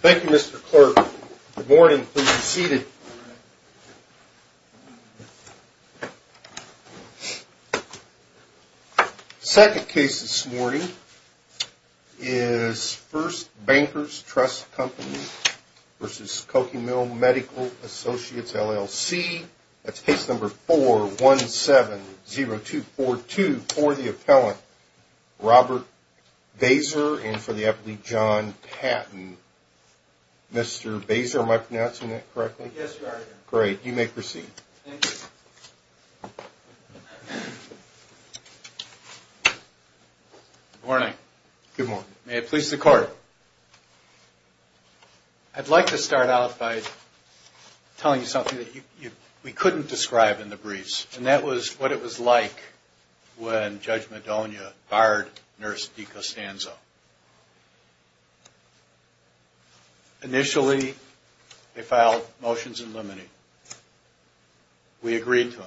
Thank you, Mr. Clerk. Good morning. Please be seated. The second case this morning is First Bankers Trust Co., Inc. v. Koke Mill Medical Associates, LLC. That's case number 4-1-7-0-2-4-2 for the appellant, Robert Baeser, and for the appellant, John Patton. Mr. Baeser, am I pronouncing that correctly? Yes, you are, Your Honor. Great. You may proceed. Thank you. Good morning. May it please the Court. I'd like to start out by telling you something that we couldn't describe in the briefs, and that was what it was like when Judge Madonia fired Nurse DiCostanzo. Initially, they filed motions in limine. We agreed to them.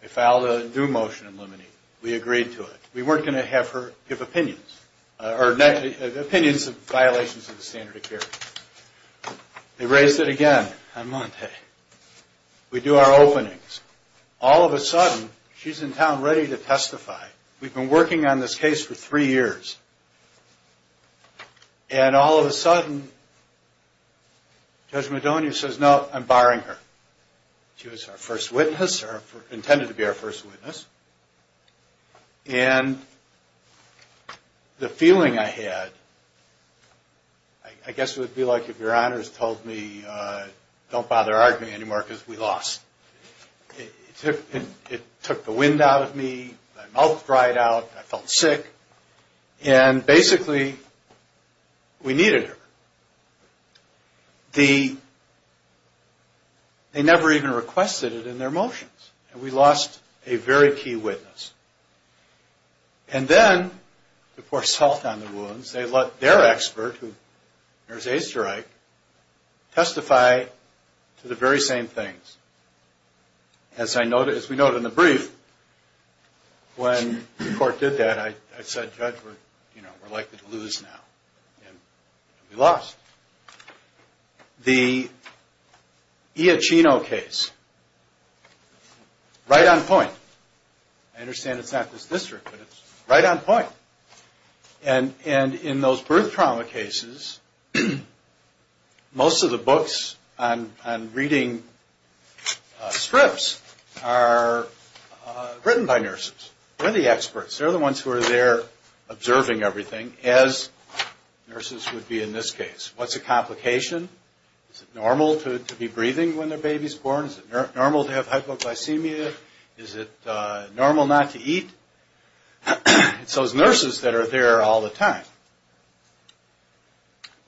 They filed a new motion in limine. We agreed to it. We weren't going to have her give opinions of violations of the standard of care. They raised it again on monte. We do our openings. All of a sudden, she's in town ready to testify. We've been working on this case for three years. And all of a sudden, Judge Madonia says, no, I'm barring her. She was our first witness, or intended to be our first witness. And the feeling I had, I guess it would be like if Your Honors told me, don't bother arguing anymore because we lost. It took the wind out of me. My mouth dried out. I felt sick. And basically, we needed her. They never even requested it in their motions, and we lost a very key witness. And then, to pour salt on the wounds, they let their expert, Nurse Easterich, testify to the very same things. As we note in the brief, when the court did that, I said, Judge, we're likely to lose now. And we lost. The Iaccino case, right on point. I understand it's not this district, but it's right on point. And in those birth trauma cases, most of the books and reading scripts are written by nurses. They're the experts. They're the ones who are there observing everything, as nurses would be in this case. What's a complication? Is it normal to be breathing when the baby's born? Is it normal to have hypoglycemia? Is it normal not to eat? It's those nurses that are there all the time.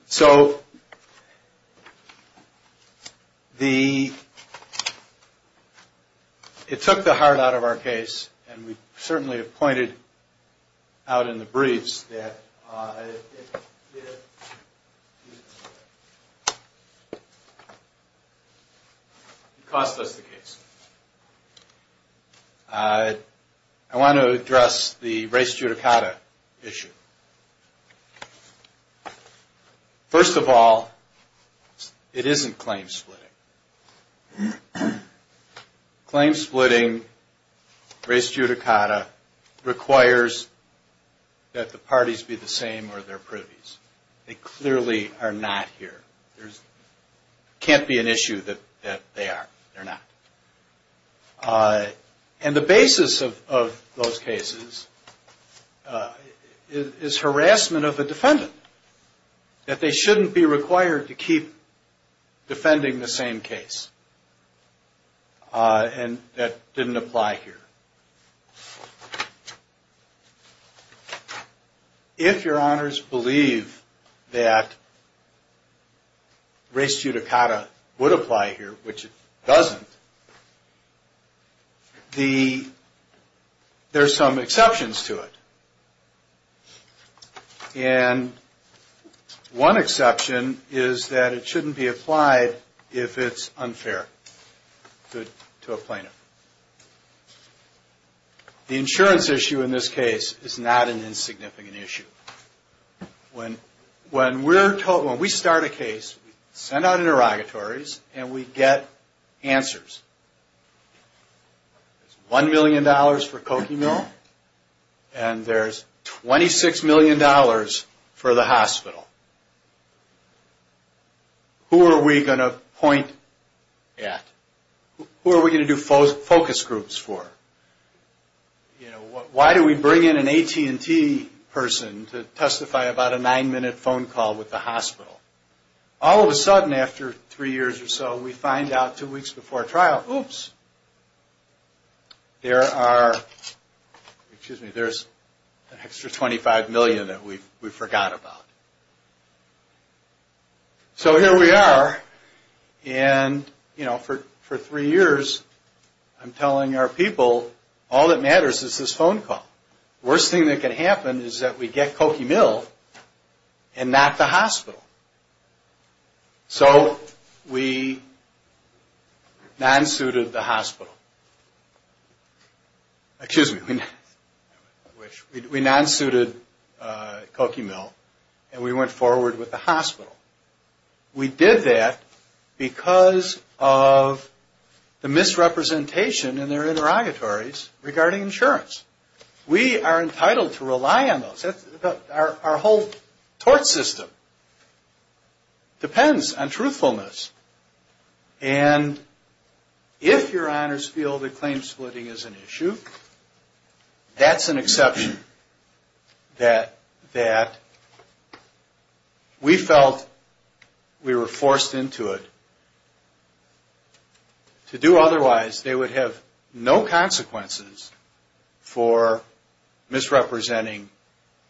So, it took the heart out of our case, and we certainly have pointed out in the briefs that it cost us the case. I want to address the res judicata issue. First of all, it isn't claim splitting. Claim splitting, res judicata, requires that the parties be the same or they're privies. They clearly are not here. It can't be an issue that they are. They're not. And the basis of those cases is harassment of the defendant, that they shouldn't be required to keep defending the same case. And that didn't apply here. If your honors believe that res judicata would apply here, which it doesn't, there are some exceptions to it. And one exception is that it shouldn't be applied if it's unfair to a plaintiff. The insurance issue in this case is not an insignificant issue. When we start a case, we send out interrogatories, and we get answers. There's $1 million for Coquimel, and there's $26 million for the hospital. Who are we going to point at? Who are we going to do focus groups for? Why do we bring in an AT&T person to testify about a nine-minute phone call with the hospital? All of a sudden, after three years or so, we find out two weeks before trial, oops, there's an extra $25 million that we forgot about. So here we are, and for three years, I'm telling our people, all that matters is this phone call. Worst thing that can happen is that we get Coquimel and not the hospital. So we non-suited the hospital. Excuse me. We non-suited Coquimel, and we went forward with the hospital. We did that because of the misrepresentation in their interrogatories regarding insurance. We are entitled to rely on those. Our whole tort system depends on truthfulness. And if your honors feel that claim splitting is an issue, that's an exception that we felt we were forced into it. To do otherwise, they would have no consequences for misrepresenting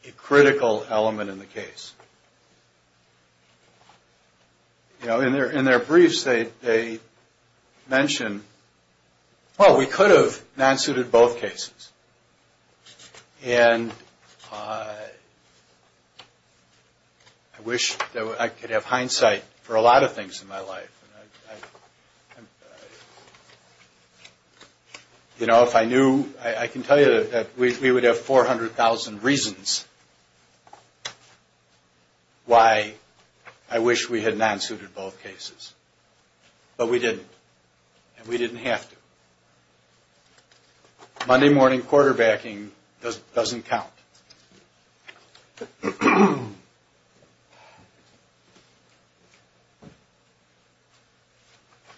a critical element in the case. You know, in their briefs, they mention, well, we could have non-suited both cases. And I wish I could have hindsight for a lot of things in my life. You know, if I knew, I can tell you that we would have 400,000 reasons. Why I wish we had non-suited both cases, but we didn't. And we didn't have to. Monday morning quarterbacking doesn't count.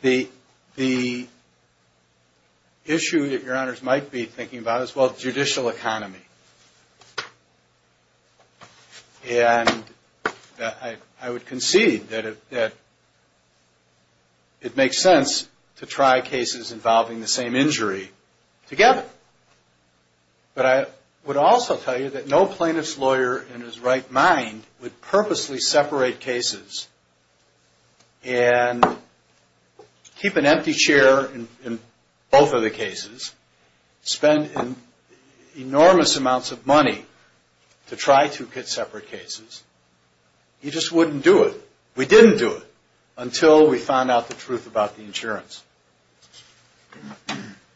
The issue that your honors might be thinking about is, well, judicial economy. And I would concede that it makes sense to try cases involving the same injury together. But I would also tell you that no plaintiff's lawyer in his right mind would purposely separate cases and keep an empty chair in both of the cases, spend an enormous amount of time on one case, spend enormous amounts of money to try to get separate cases. He just wouldn't do it. We didn't do it until we found out the truth about the insurance.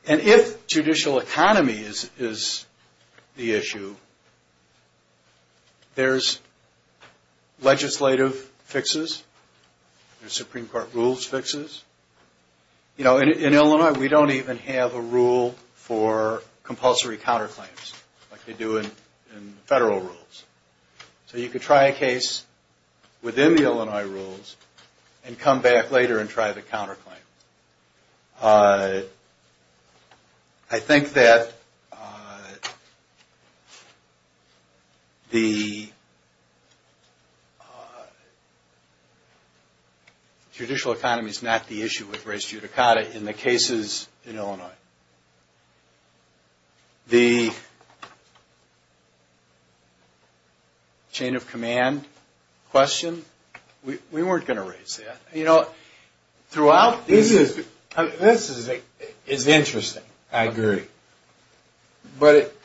And if judicial economy is the issue, there's legislative fixes. There's Supreme Court rules fixes. You know, in Illinois, we don't even have a rule for compulsory counterclaims like they do in federal rules. So you could try a case within the Illinois rules and come back later and try the counterclaim. I think that the judicial economy is not the issue. It's not the issue with res judicata in the cases in Illinois. The chain of command question, we weren't going to raise that. You know, throughout this is interesting. I agree. But it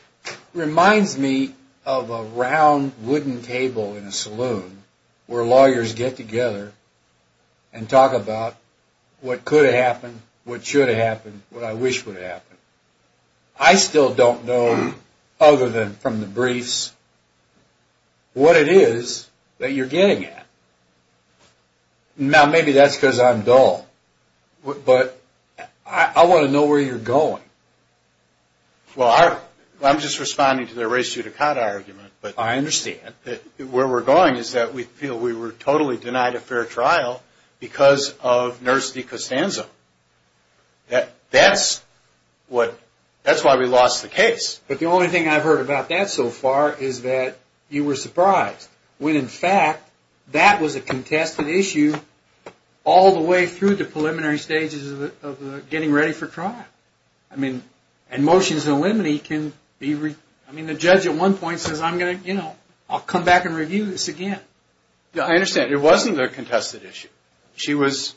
reminds me of a round wooden table in a saloon where lawyers get together and talk about what could have happened, what should have happened, what I wish would have happened. I still don't know, other than from the briefs, what it is that you're getting at. Now, maybe that's because I'm dull. But I want to know where you're going. Well, I'm just responding to the res judicata argument. I understand. Where we're going is that we feel we were totally denied a fair trial because of nurse de costanza. That's why we lost the case. But the only thing I've heard about that so far is that you were surprised when, in fact, that was a contested issue all the way through the preliminary stages of getting ready for trial. I mean, the judge at one point says, I'll come back and review this again. I understand. It wasn't a contested issue. She was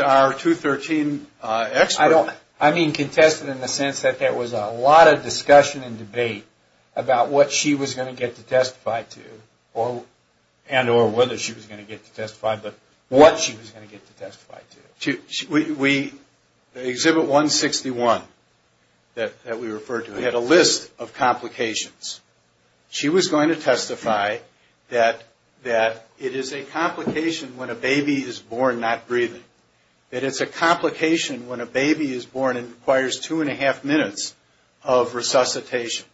our 213 expert. I mean contested in the sense that there was a lot of discussion and debate about what she was going to get to testify to and or whether she was going to get to testify, but what she was going to get to testify to. She had a list of complications. She was going to testify that it is a complication when a baby is born not breathing. That it's a complication when a baby is born and requires two and a half minutes of resuscitation.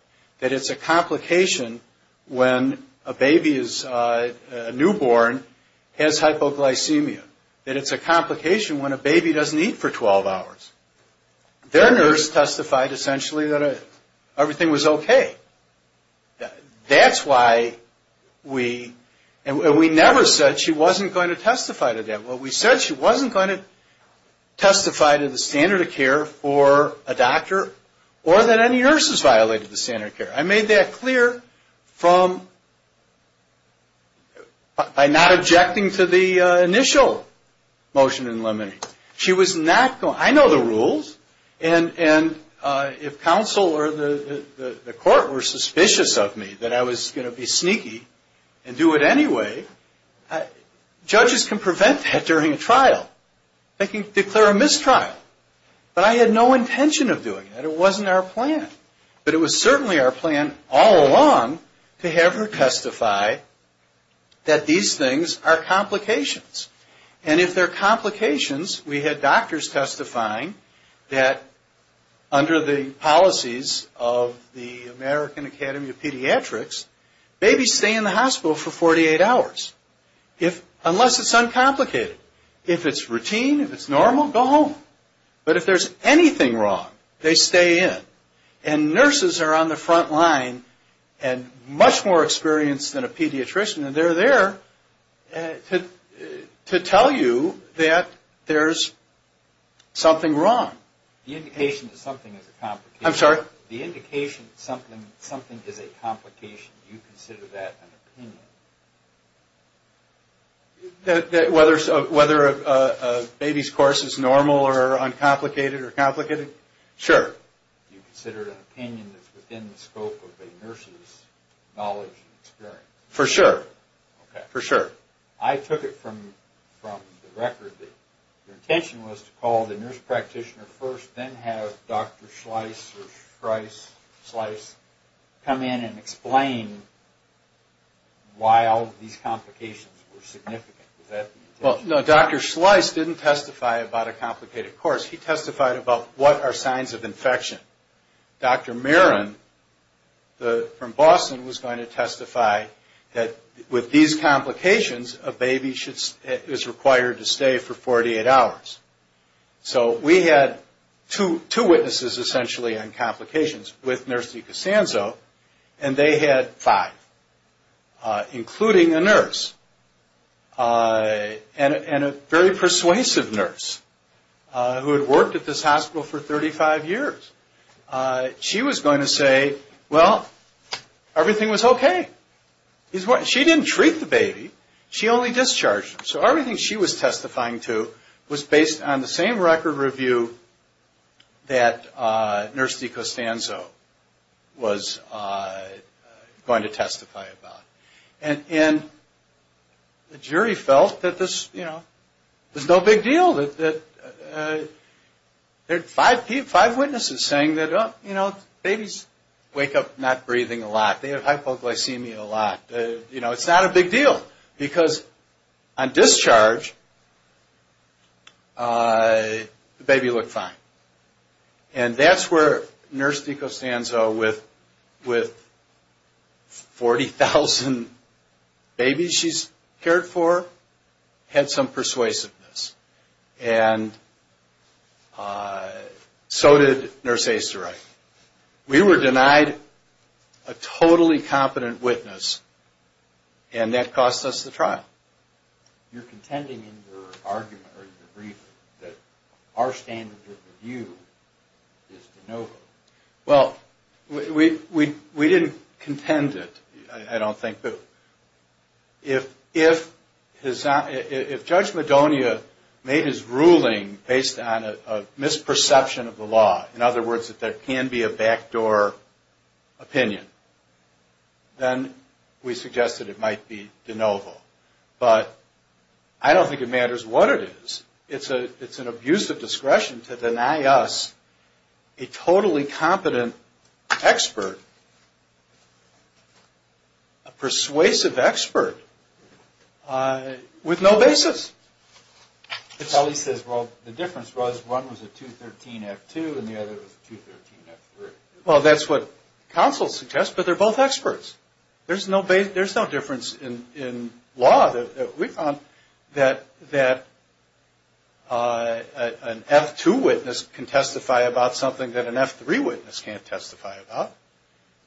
That it's a complication when a newborn has hypoglycemia. That it's a complication when a baby doesn't eat for 12 hours. Their nurse testified essentially that everything was okay. That's why we, and we never said she wasn't going to testify to that. Well, we said she wasn't going to testify to the standard of care for a doctor or that any nurses violated the standard of care. I made that clear from, by not objecting to the initial motion in limine. She was not going, I know the rules, and if counsel or the court were suspicious of me that I was going to be sneaky and do it anyway, judges can prevent that during a trial. They can declare a mistrial, but I had no intention of doing that. It wasn't our plan. But it was certainly our plan all along to have her testify that these things are complications. And if they're complications, we had doctors testifying that under the policies of the American Academy of Pediatrics, babies stay in the hospital for 48 hours unless it's uncomplicated. If it's routine, if it's normal, go home. But if there's anything wrong, they stay in. And nurses are on the front line and much more experienced than a pediatrician, and they're there to tell you that there's something wrong. The indication that something is a complication, do you consider that an opinion? Whether a baby's course is normal or uncomplicated or complicated? Sure. Do you consider it an opinion that's within the scope of a nurse's knowledge and experience? For sure. I took it from the record that your intention was to call the nurse practitioner first, then have Dr. Schleiss come in and explain why all these complications were significant. Well, no, Dr. Schleiss didn't testify about a complicated course. He testified about what are signs of infection. Dr. Marin from Boston was going to testify that with these complications, a baby is required to stay for 48 hours. So we had two witnesses essentially on complications with Nurse DiCasanzo, and they had five, including a nurse. And a very persuasive nurse who had worked at this hospital for 35 years. She was going to say, well, everything was okay. She didn't treat the baby, she only discharged him. So everything she was testifying to was based on the same record review that Nurse DiCasanzo was going to testify about. And the jury felt that this was no big deal. There were five witnesses saying that babies wake up not breathing a lot. They have hypoglycemia a lot. It's not a big deal, because on discharge, the baby looked fine. And that's where Nurse DiCasanzo, with $40,000, $50,000, $100,000, $100,000, $100,000, $100,000, $100,000, $100,000, $100,000, $100,000, $100,000, $100,000, $100,000, $100,000, $100,000, $100,000, $100,000, $100,000, $100,000, $100,000, $100,000. And so did Nurse Easterright. We were denied a totally competent witness, and that cost us the trial. You're contending in your argument that our standard of review is de novo. Well, we didn't contend it, I don't think. If Judge Madonia made his ruling based on a misperception of the law, in other words, that there can be a backdoor opinion, then we suggest that it might be de novo. But I don't think it matters what it is. It's an abuse of discretion to deny us a totally competent expert, a persuasive expert, with no basis. The difference was one was a 213-F2 and the other was a 213-F3. Well, that's what counsel suggests, but they're both experts. There's no difference in law that we found that an F2 witness can testify about something that an F3 witness can't testify about.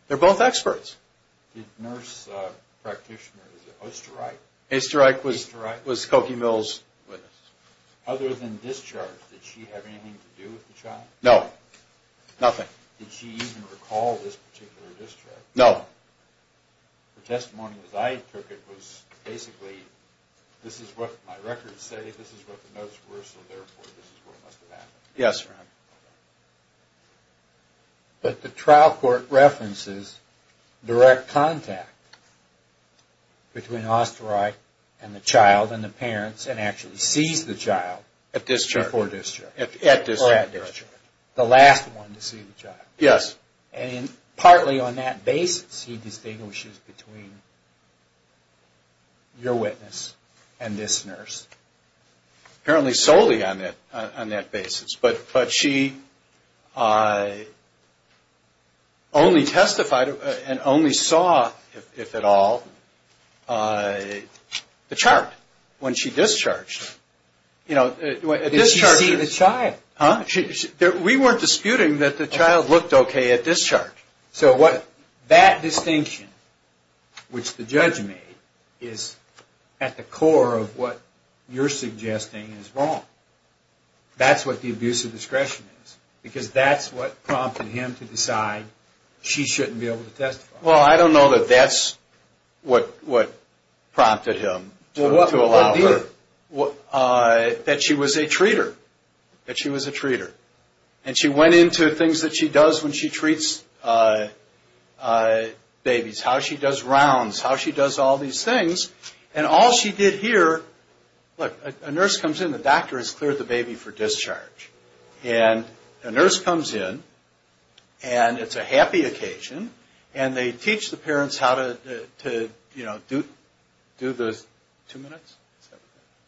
They're both experts. Nurse practitioner, is it Easterright? Easterright was Cokie Mills' witness. Other than discharge, did she have anything to do with the child? No, nothing. Did she even recall this particular discharge? No. Her testimony as I took it was basically, this is what my records say, this is what the notes were, so therefore this is what must have happened. Yes, Ron. But the trial court references direct contact between Easterright and the child and the parents and actually sees the child before discharge. At discharge. The last one to see the child. Yes. And partly on that basis he distinguishes between your witness and this nurse. Apparently solely on that basis, but she only testified and only saw, if at all, the chart when she discharged. Did she see the child? We weren't disputing that the child looked okay at discharge. So that distinction, which the judge made, is at the core of what you're suggesting is wrong. That's what the abuse of discretion is. Because that's what prompted him to decide she shouldn't be able to testify. Well, I don't know that that's what prompted him to allow her. That she was a treater. And she went into things that she does when she treats babies. How she does rounds, how she does all these things. And all she did here, look, a nurse comes in, the doctor has cleared the baby for discharge. And a nurse comes in, and it's a happy occasion. And they teach the parents how to, you know, do the two minutes.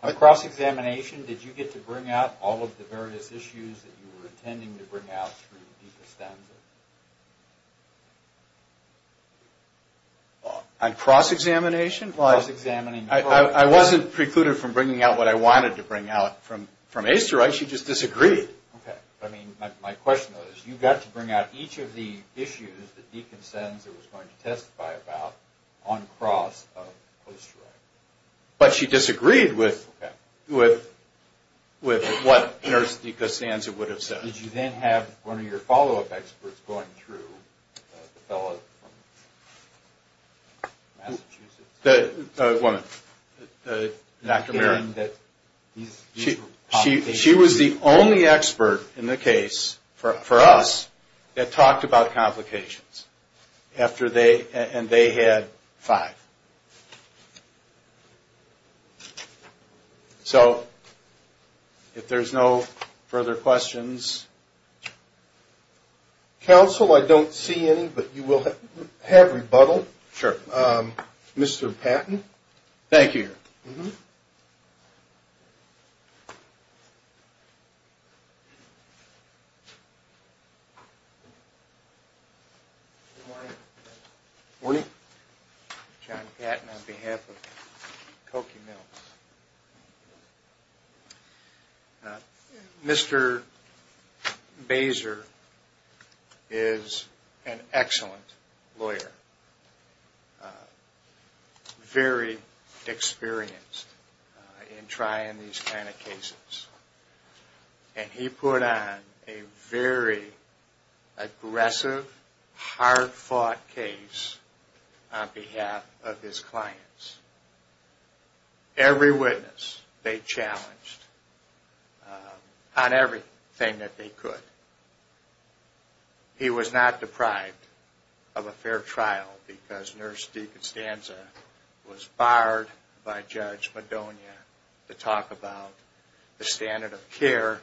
On cross-examination, did you get to bring out all of the various issues that you were intending to bring out through decostensis? On cross-examination? I wasn't precluded from bringing out what I wanted to bring out. From Asteroid, she just disagreed. Okay, but my question is, you got to bring out each of the issues that decostensis was going to testify about on cross of Asteroid. But she disagreed with what nurse decostensis would have said. Did you then have one of your follow-up experts going through the fellow from Massachusetts? A woman, Dr. Merritt. She was the only expert in the case, for us, that talked about complications. And they had five. So, if there's no further questions... Counsel, I don't see any, but you will have rebuttal. Sure. Mr. Patton, thank you. Good morning. Mr. Baser is an excellent lawyer. Very experienced in trying these kind of cases. And he put on a very aggressive, hard-fought case on behalf of his clients. Every witness, they challenged on everything that they could. He was not deprived of a fair trial, because nurse decostensis was fired by Judge Madonia to talk about the standard of care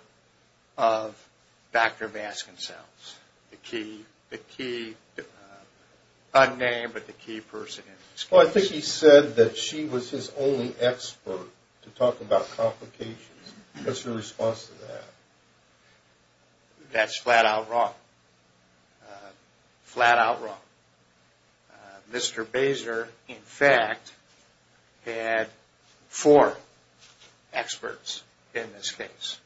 of Dr. Baskin's cells. The key, unnamed, but the key person in this case. Well, I think he said that she was his only expert to talk about complications. What's your response to that? That's flat-out wrong. Flat-out wrong. Mr. Baser, in fact, had four experts in this case.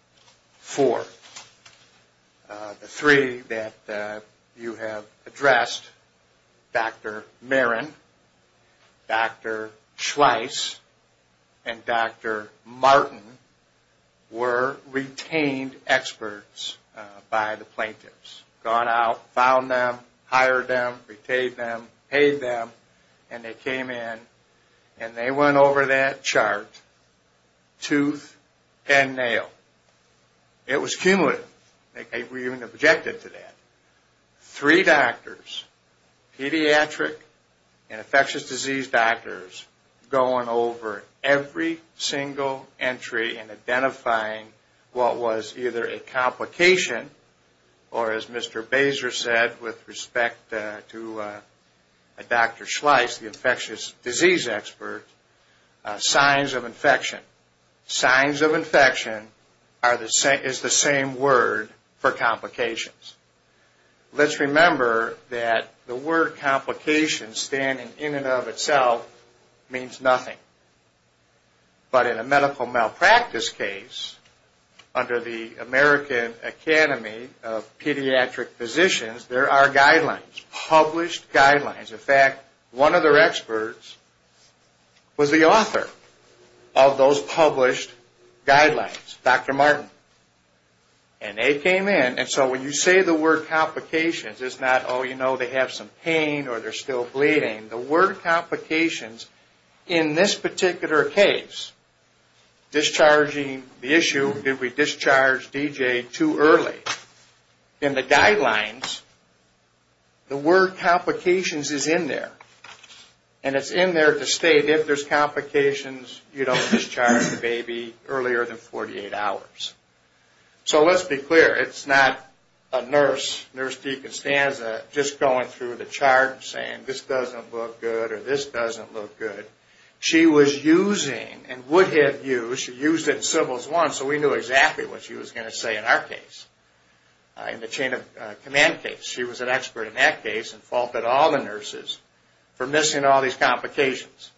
Four. The three that you have addressed, Dr. Marin, Dr. Schweiss, and Dr. Martin, were retained experts by the plaintiffs. Gone out, found them, hired them, retained them, paid them, and they came in. And they went over that chart tooth and nail. It was cumulative. They were even objected to that. Three doctors, pediatric and infectious disease doctors, going over every single entry and identifying what was either a complication, or, as Mr. Baser said, with respect to Dr. Schweiss, the infectious disease expert, signs of infection. Signs of infection is the same word for complications. Let's remember that the word complications, standing in and of itself, means nothing. But in a medical malpractice case, under the American Academy of Pediatric Physicians, there are guidelines, published guidelines. In fact, one of their experts was the author of those published guidelines, Dr. Martin. And they came in. And so when you say the word complications, it's not, oh, you know, they have some pain, or they're still bleeding. The word complications, in this particular case, discharging the issue, did we discharge DJ too early? In the guidelines, the word complications is in there. And it's in there to state if there's complications, you don't discharge the baby earlier than 48 hours. So let's be clear, it's not a nurse, nurse Deacon Stanza, just going through the chart and saying, this doesn't look good, or this doesn't look good. She was using, and would have used, she used it in Sybil's one, so we knew exactly what she was going to say in our case, in the chain of command case. She was an expert in that case, and faulted all the nurses for missing all these complications.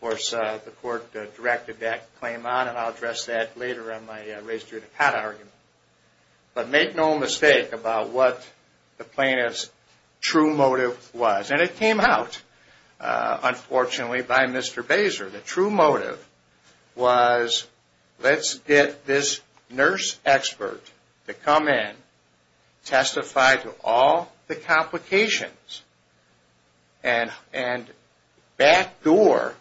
Of course, the court directed that claim on, and I'll address that later on my race to the cot argument. But make no mistake about what the plaintiff's true motive was. And it came out, unfortunately, by Mr. Basar. The true motive was, let's get this nurse expert to come in, testify to all the complications, and backdoor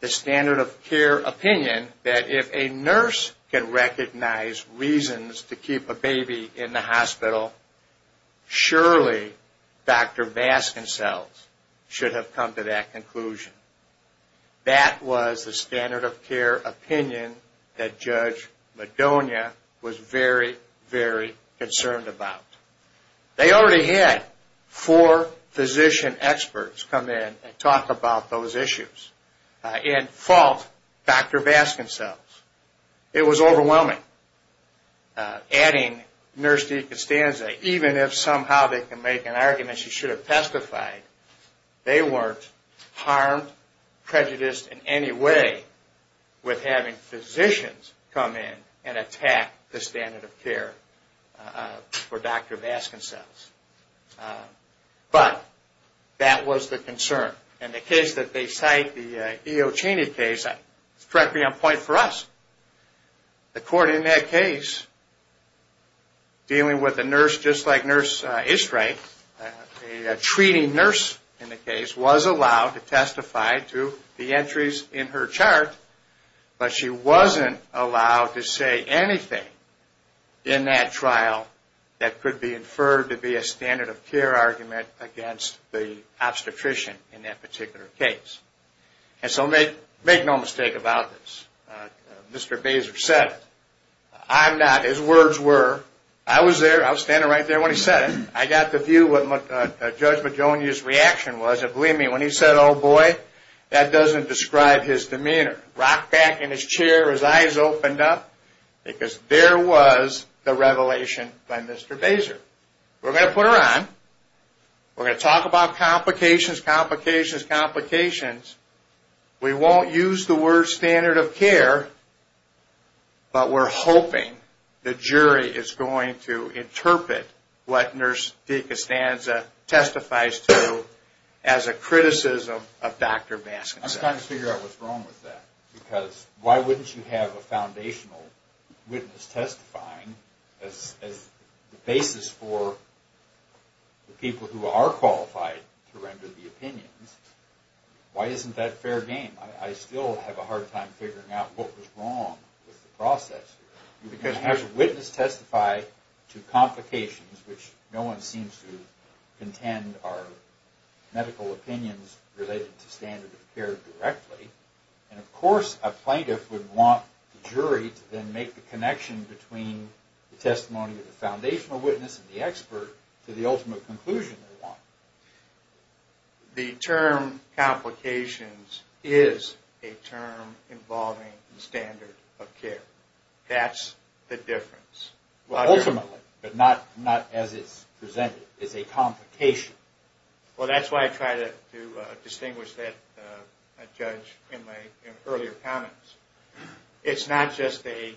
the standard of care opinion that if a nurse can recognize reasons to keep a baby in the hospital, surely Dr. Vasconcells should have come to that conclusion. That was the standard of care opinion that Judge Madonia was very, very concerned about. They already had four physician experts come in and talk about those issues, and fault Dr. Vasconcells. It was overwhelming, adding Nurse DiCostanza, even if somehow they can make an argument she should have testified, they weren't harmed, prejudiced in any way with having physicians come in and attack the standard of care for Dr. Vasconcells. But that was the concern. And the case that they cite, the E.O. Cheney case, it struck me on point for us. The court in that case, dealing with a nurse just like Nurse Estreich, a treating nurse in the case, was allowed to testify to the entries in her chart, but she wasn't allowed to say anything in that trial that could be used to be inferred to be a standard of care argument against the obstetrician in that particular case. And so make no mistake about this, Mr. Basar said it. I'm not, his words were, I was there, I was standing right there when he said it, I got the view of what Judge Madonia's reaction was, and believe me, when he said, oh boy, that doesn't describe his demeanor, rocked back in his chair, his eyes opened up, because there was the revelation by Mr. Basar. We're going to put her on, we're going to talk about complications, complications, complications, we won't use the word standard of care, but we're hoping the jury is going to interpret what Nurse DiCostanza testifies to as a criticism of Dr. Vasconcells. I'm just trying to figure out what's wrong with that, because why wouldn't you have a foundational witness testifying as the basis for the people who are qualified to render the opinions? Why isn't that fair game? I still have a hard time figuring out what was wrong with the process. A witness testifies to complications, which no one seems to contend are medical opinions related to standard of care directly, and of course a plaintiff would want the jury to then make the connection between the testimony of the foundational witness and the expert to the ultimate conclusion they want. The term complications is a term involving standard of care, that's the difference. Ultimately, but not as it's presented, it's a complication. That's why I try to distinguish that, Judge, in my earlier comments. It's not just an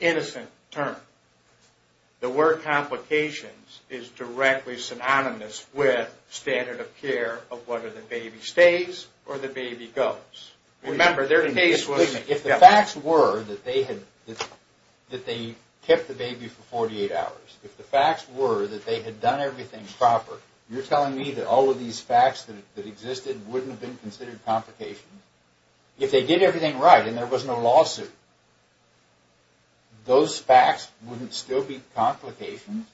innocent term. The word complications is directly synonymous with standard of care of whether the baby stays or the baby goes. If the facts were that they kept the baby for 48 hours, if the facts were that they had done everything proper, you're telling me that all of these facts that existed wouldn't have been considered complications? If they did everything right and there was no lawsuit, those facts wouldn't still be complications?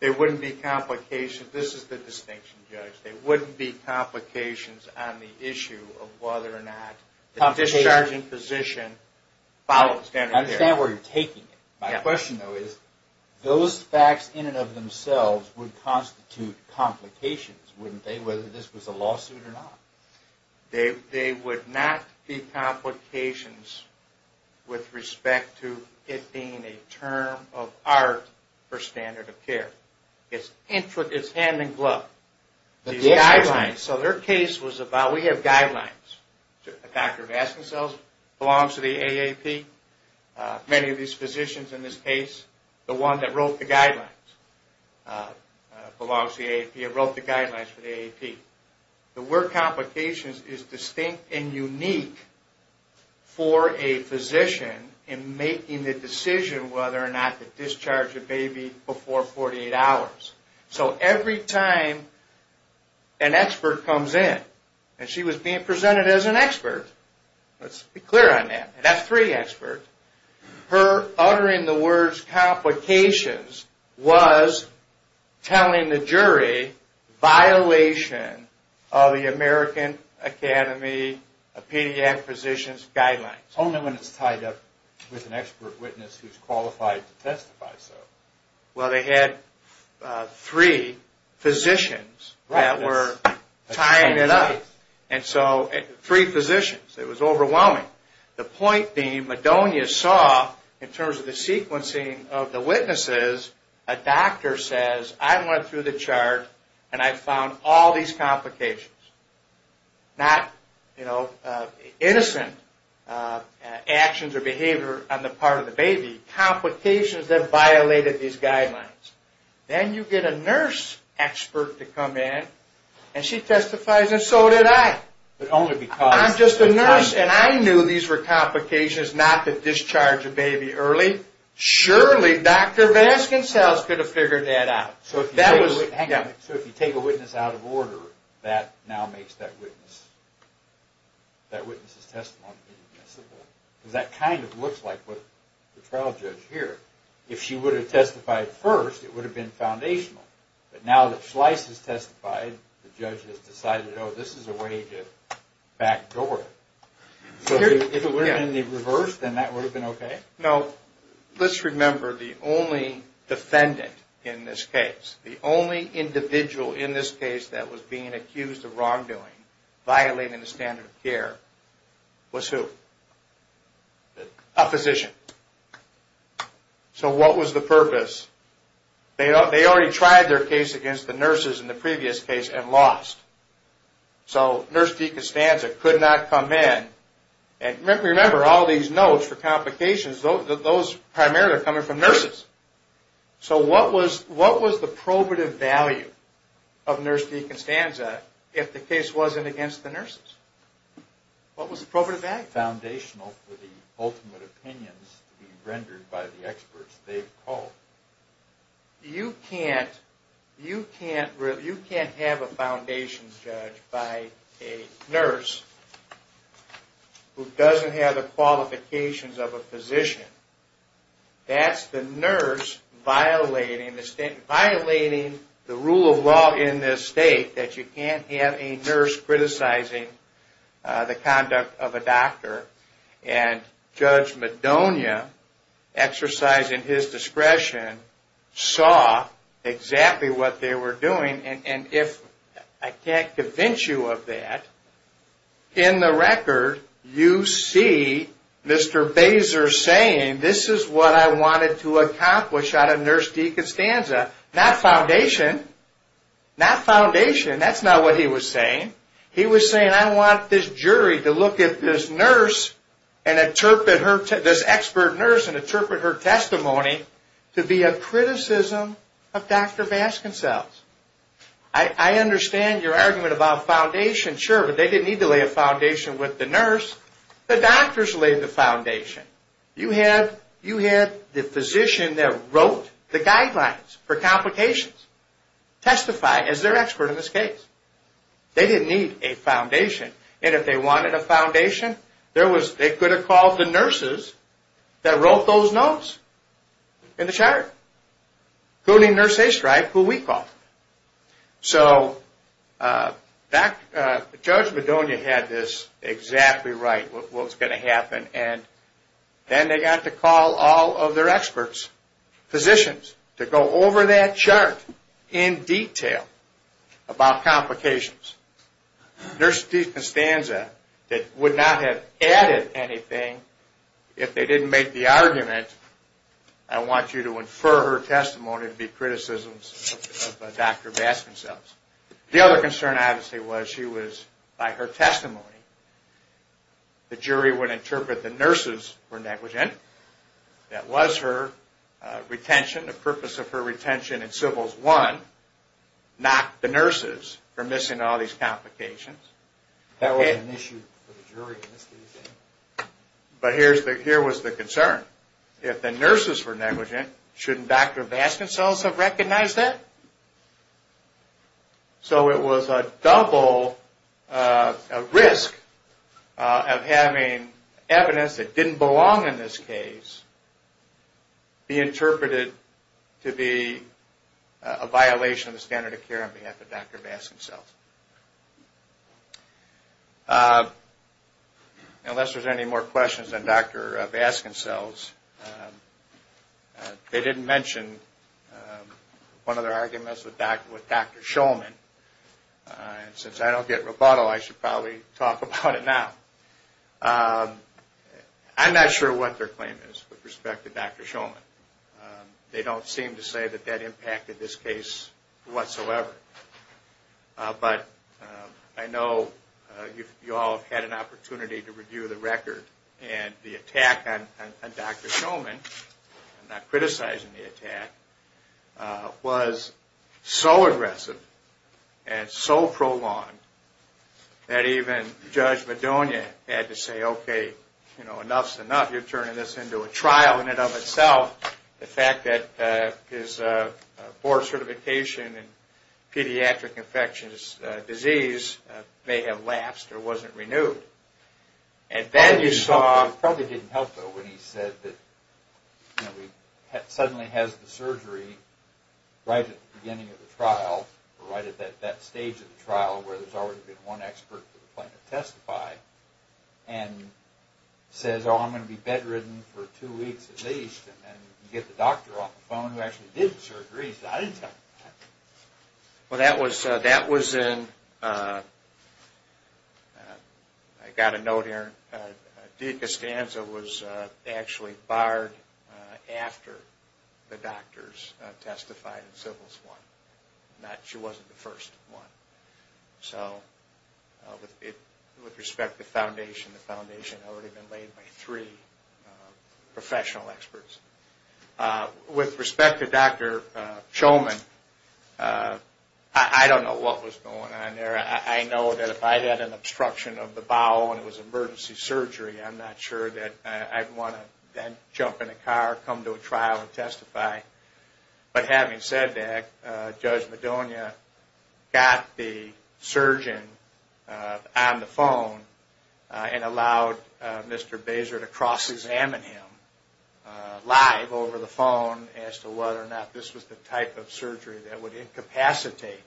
They wouldn't be complications. This is the distinction, Judge. They wouldn't be complications on the issue of whether or not the discharge in position follows standard of care. I understand where you're taking it. My question, though, is those facts in and of themselves would constitute complications, wouldn't they, whether this was a lawsuit or not? They would not be complications with respect to it being a term of art for standard of care. It's hand in glove. We have guidelines. Dr. Vasconcells belongs to the AAP. Many of these physicians in this case, the one that wrote the guidelines belongs to the AAP. It wrote the guidelines for the AAP. The word complications is distinct and unique for a physician in making the decision whether or not to discharge the baby before 48 hours. So every time an expert comes in, and she was being presented as an expert, let's be clear on that, an F3 expert, her uttering the words complications was telling the jury violation of the American Academy of Pediatric Physicians guidelines. Only when it's tied up with an expert witness who's qualified to testify so. Well, they had three physicians that were tying it up. Three physicians. It was overwhelming. The point being, Madonia saw, in terms of the sequencing of the witnesses, a doctor says, I went through the chart and I found all these complications. Not innocent actions or behavior on the part of the baby. Complications that violated these guidelines. Then you get a nurse expert to come in and she testifies and so did I. I'm just a nurse and I knew these were complications not to discharge a baby early. Surely Dr. Vasconcells could have figured that out. So if you take a witness out of order, that now makes that witness's testimony inadmissible. Because that kind of looks like what the trial judge here, if she would have testified first, it would have been foundational. But now that Shlyce has testified, the judge has decided, oh, this is a way to backdoor it. So if it would have been the reverse, then that would have been okay? Now, let's remember the only defendant in this case, the only individual in this case that was being accused of wrongdoing, violating the standard of care, was who? A physician. So what was the purpose? They already tried their case against the nurses in the previous case and lost. So nurse deconstanza could not come in. Remember, all these notes for complications, those primarily are coming from nurses. So what was the probative value of nurse deconstanza if the case wasn't against the nurses? What was the probative value? You can't have a foundation judge by a nurse who doesn't have the qualifications of a physician. That's the nurse violating the rule of law in this state that you can't have a nurse criticizing the conduct of a doctor. And Judge Madonia, exercising his discretion, saw exactly what they were doing. And if I can't convince you of that, in the record, you see Mr. Basar saying, this is what I wanted to accomplish out of nurse deconstanza. Not foundation. That's not what he was saying. He was saying, I want this jury to look at this expert nurse and interpret her testimony to be a criticism of Dr. Baskin-Sells. I understand your argument about foundation, sure, but they didn't need to lay a foundation with the nurse. The doctors laid the foundation. You had the physician that wrote the guidelines for complications testify as their expert in this case. They didn't need a foundation. And if they wanted a foundation, they could have called the nurses that wrote those notes in the chart. Including Nurse Aistreich, who we called. So Judge Madonia had this exactly right. What was going to happen. And then they got to call all of their experts, physicians, to go over that chart in detail about complications. Nurse deconstanza would not have added anything if they didn't make the argument, I want you to infer her testimony to be criticisms of Dr. Baskin-Sells. The other concern, obviously, was she was, by her testimony, the jury would interpret the nurses were negligent. That was her retention, the purpose of her retention in civils one. Not the nurses for missing all these complications. But here was the concern. If the nurses were negligent, shouldn't Dr. Baskin-Sells have recognized that? So it was a double risk of having evidence that didn't belong in this case be interpreted to be a violation of the standard of care on behalf of Dr. Baskin-Sells. Unless there's any more questions on Dr. Baskin-Sells, they didn't mention one of their arguments with Dr. Shulman. Since I don't get rebuttal, I should probably talk about it now. I'm not sure what their claim is with respect to Dr. Shulman. They don't seem to say that that impacted this case whatsoever. But I know you all had an opportunity to review the record and the attack on Dr. Shulman, I'm not criticizing the attack, was so aggressive and so prolonged that even Judge Madonia had to say, okay, enough's enough, you're turning this into a trial in and of itself. The fact that his board certification in pediatric infectious disease may have lapsed or wasn't renewed. And then you saw, it probably didn't help though when he said that he suddenly has the surgery right at the beginning of the trial, or right at that stage of the trial where there's already been one expert to testify and says, oh, I'm going to be bedridden for two weeks at least. And then you get the doctor off the phone who actually did the surgery. I didn't tell you that. I got a note here. Dea Costanza was actually barred after the doctors testified in Civils I. She wasn't the first one. With respect to the foundation, the foundation had already been laid by three professional experts. With respect to Dr. Shulman, I don't know what was going on there. I know that if I had an obstruction of the bowel and it was emergency surgery, I'm not sure that I'd want to then jump in a car, come to a trial and testify. But having said that, Judge Madonia got the surgeon on the phone and allowed Mr. Baser to cross-examine him live over the phone as to whether or not this was the type of surgery that would incapacitate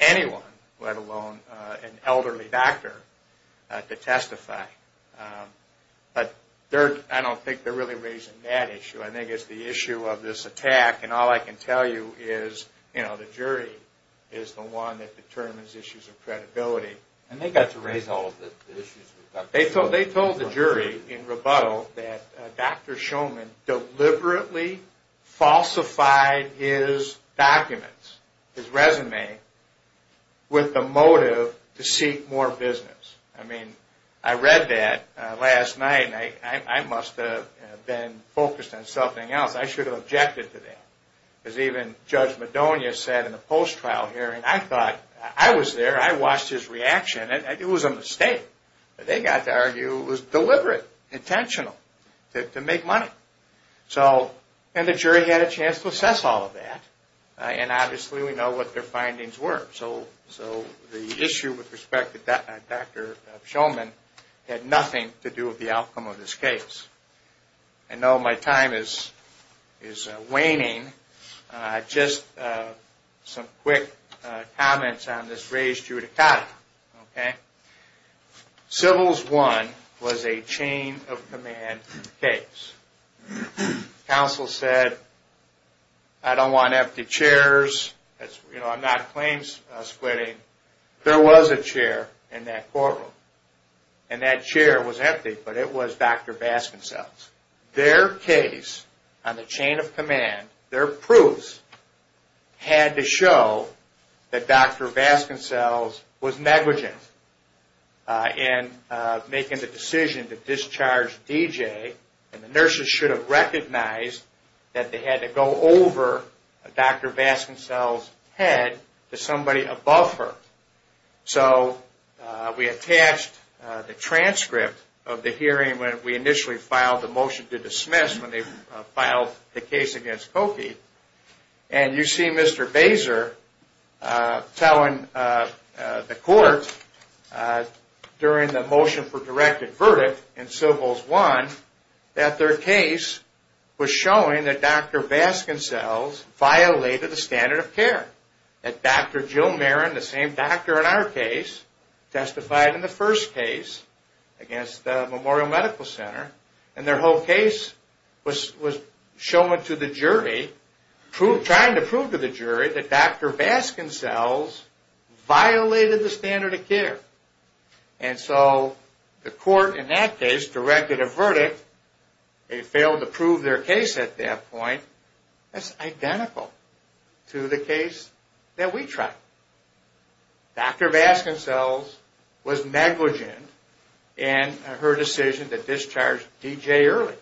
anyone, let alone an elderly doctor, to testify. But I don't think they're really raising that issue. I think it's the issue of this attack. And all I can tell you is the jury is the one that determines issues of credibility. And they got to raise all of the issues. They told the jury in rebuttal that Dr. Shulman deliberately falsified his documents, his resume, with the motive to seek more business. I mean, I read that last night and I must have been focused on something else. I should have objected to that. Because even Judge Madonia said in a post-trial hearing, I was there, I watched his reaction, and it was a mistake. They got to argue it was deliberate, intentional, to make money. And the jury had a chance to assess all of that. And obviously we know what their findings were. So the issue with respect to Dr. Shulman had nothing to do with the outcome of this case. I know my time is waning. Just some quick comments on this raised judicata. Civils 1 was a chain of command case. Counsel said, I don't want empty chairs. I'm not claim splitting. There was a chair in that courtroom. And that chair was empty, but it was Dr. Baskin-Sells. Their case on the chain of command, their proofs, had to show that Dr. Baskin-Sells was negligent in making the decision to discharge D.J. And the nurses should have recognized that they had to go over Dr. Baskin-Sells' head to somebody above her. So we attached the transcript of the hearing when we initially filed the motion to dismiss, when they filed the case against Cokie. And you see Mr. Baser telling the court during the motion for directed verdict in Civils 1 that their case was showing that Dr. Baskin-Sells violated the standard of care. That Dr. Jill Marin, the same doctor in our case, testified in the first case against the Memorial Medical Center. And their whole case was showing to the jury, trying to prove to the jury that Dr. Baskin-Sells violated the standard of care. And so the court in that case directed a verdict. They failed to prove their case at that point. That's identical to the case that we tried. Dr. Baskin-Sells was negligent in her decision to discharge D.J. early.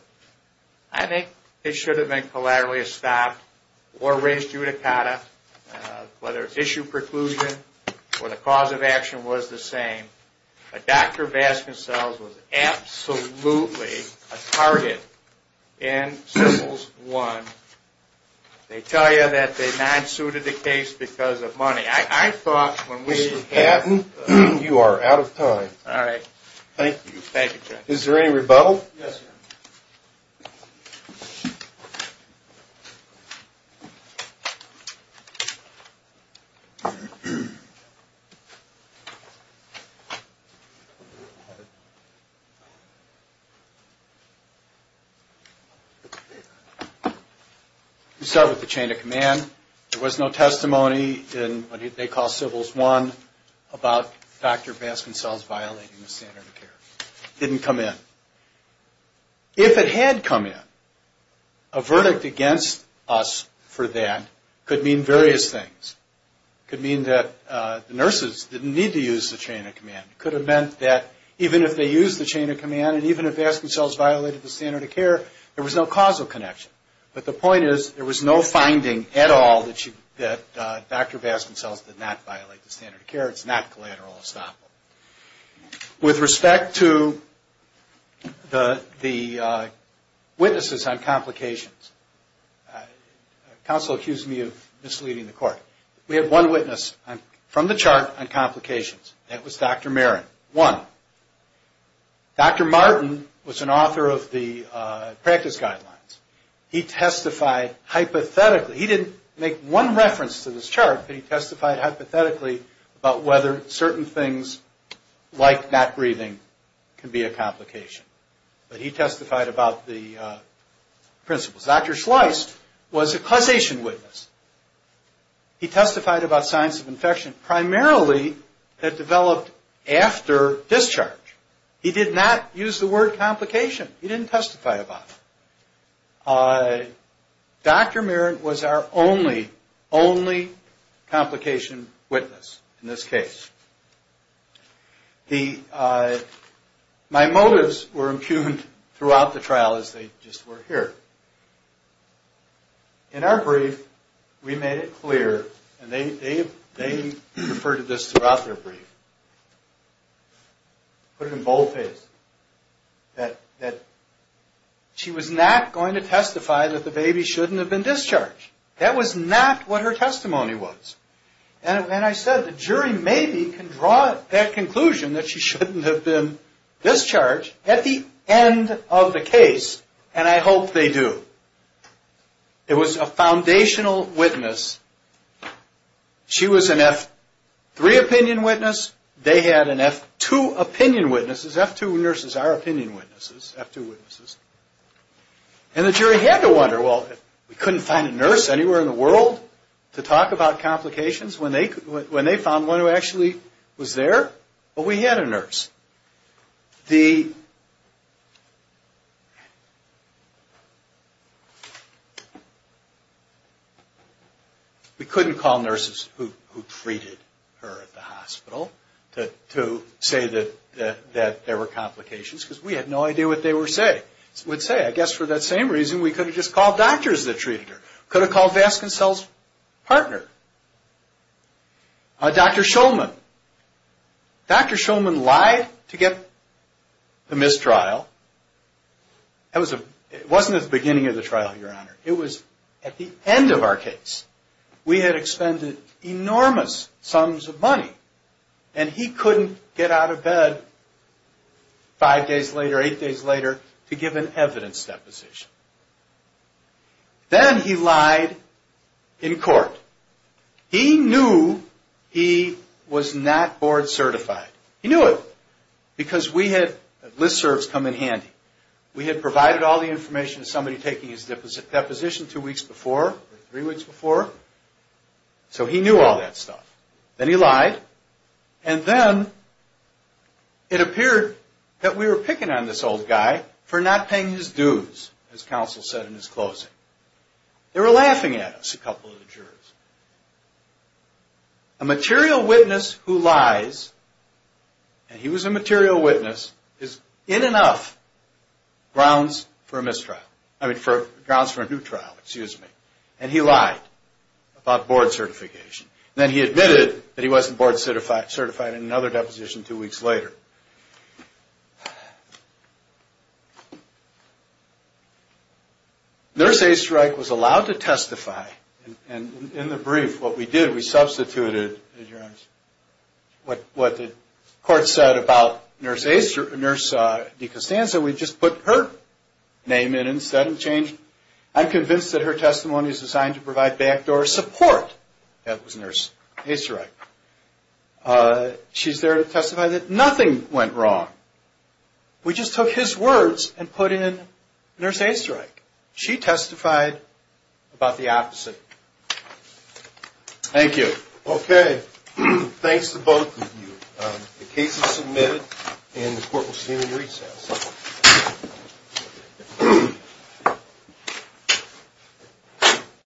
I think it should have been collaterally stopped or raised judicata, whether issue preclusion or the cause of action was the same. But Dr. Baskin-Sells was absolutely a target in Civils 1. They tell you that they non-suited the case because of money. Mr. Patton, you are out of time. Is there any rebuttal? You start with the chain of command. There was no testimony in what they call Civils 1 about Dr. Baskin-Sells violating the standard of care. It didn't come in. If it had come in, a verdict against us for that could mean various things. It could mean that the nurses didn't need to use the chain of command. It could have meant that even if they used the chain of command and even if Baskin-Sells violated the standard of care, there was no causal connection. But the point is there was no finding at all that Dr. Baskin-Sells did not violate the standard of care. It's not collateral estoppel. With respect to the witnesses on complications, counsel accused me of misleading the court. We have one witness from the chart on complications. That was Dr. Marin, one. Dr. Martin was an author of the practice guidelines. He testified hypothetically. He didn't make one reference to this chart, but he testified hypothetically about whether certain things like not breathing can be a complication. But he testified about the principles. Dr. Schleiss was a causation witness. He testified about signs of infection primarily that developed after discharge. He did not use the word complication. He didn't testify about it. Dr. Marin was our only, only complication witness in this case. My motives were impugned throughout the trial as they just were here. In our brief, we made it clear, and they referred to this throughout their brief, put it in boldface, that she was not going to testify that the baby shouldn't have been discharged. That was not what her testimony was. And I said the jury maybe can draw that conclusion that she shouldn't have been discharged at the end of the case, and I hope they do. It was a foundational witness. She was an F3 opinion witness. They had an F2 opinion witness. And the jury had to wonder, well, we couldn't find a nurse anywhere in the world to talk about complications when they found one who actually was there. But we had a nurse. We couldn't call nurses who treated her at the hospital to say that there were complications, I guess for that same reason we could have just called doctors that treated her. Could have called Vasconcell's partner. Dr. Shulman lied to get the mistrial. It wasn't at the beginning of the trial, Your Honor. It was at the end of our case. We had expended enormous sums of money, and he couldn't get out of bed five days later, eight days later, to give an evidence deposition. Then he lied in court. He knew he was not board certified. He knew it, because we had list serves come in handy. We had provided all the information to somebody taking his deposition two weeks before or three weeks before. So he knew all that stuff. Then he lied, and then it appeared that we were picking on this old guy for not paying his dues, as counsel said in his closing. They were laughing at us, a couple of the jurors. A material witness who lies, and he was a material witness, is in enough grounds for a new trial, and he lied about board certification. Then he admitted that he wasn't board certified in another deposition two weeks later. Nurse Easterich was allowed to testify, and in the brief, what we did, we substituted, Your Honor, what the court said about Nurse DeCostanza. We just put her name in instead and changed it. I'm convinced that her testimony is designed to provide backdoor support. That was Nurse Easterich. She's there to testify that nothing went wrong. We just took his words and put in Nurse Easterich. She testified about the opposite. Thank you.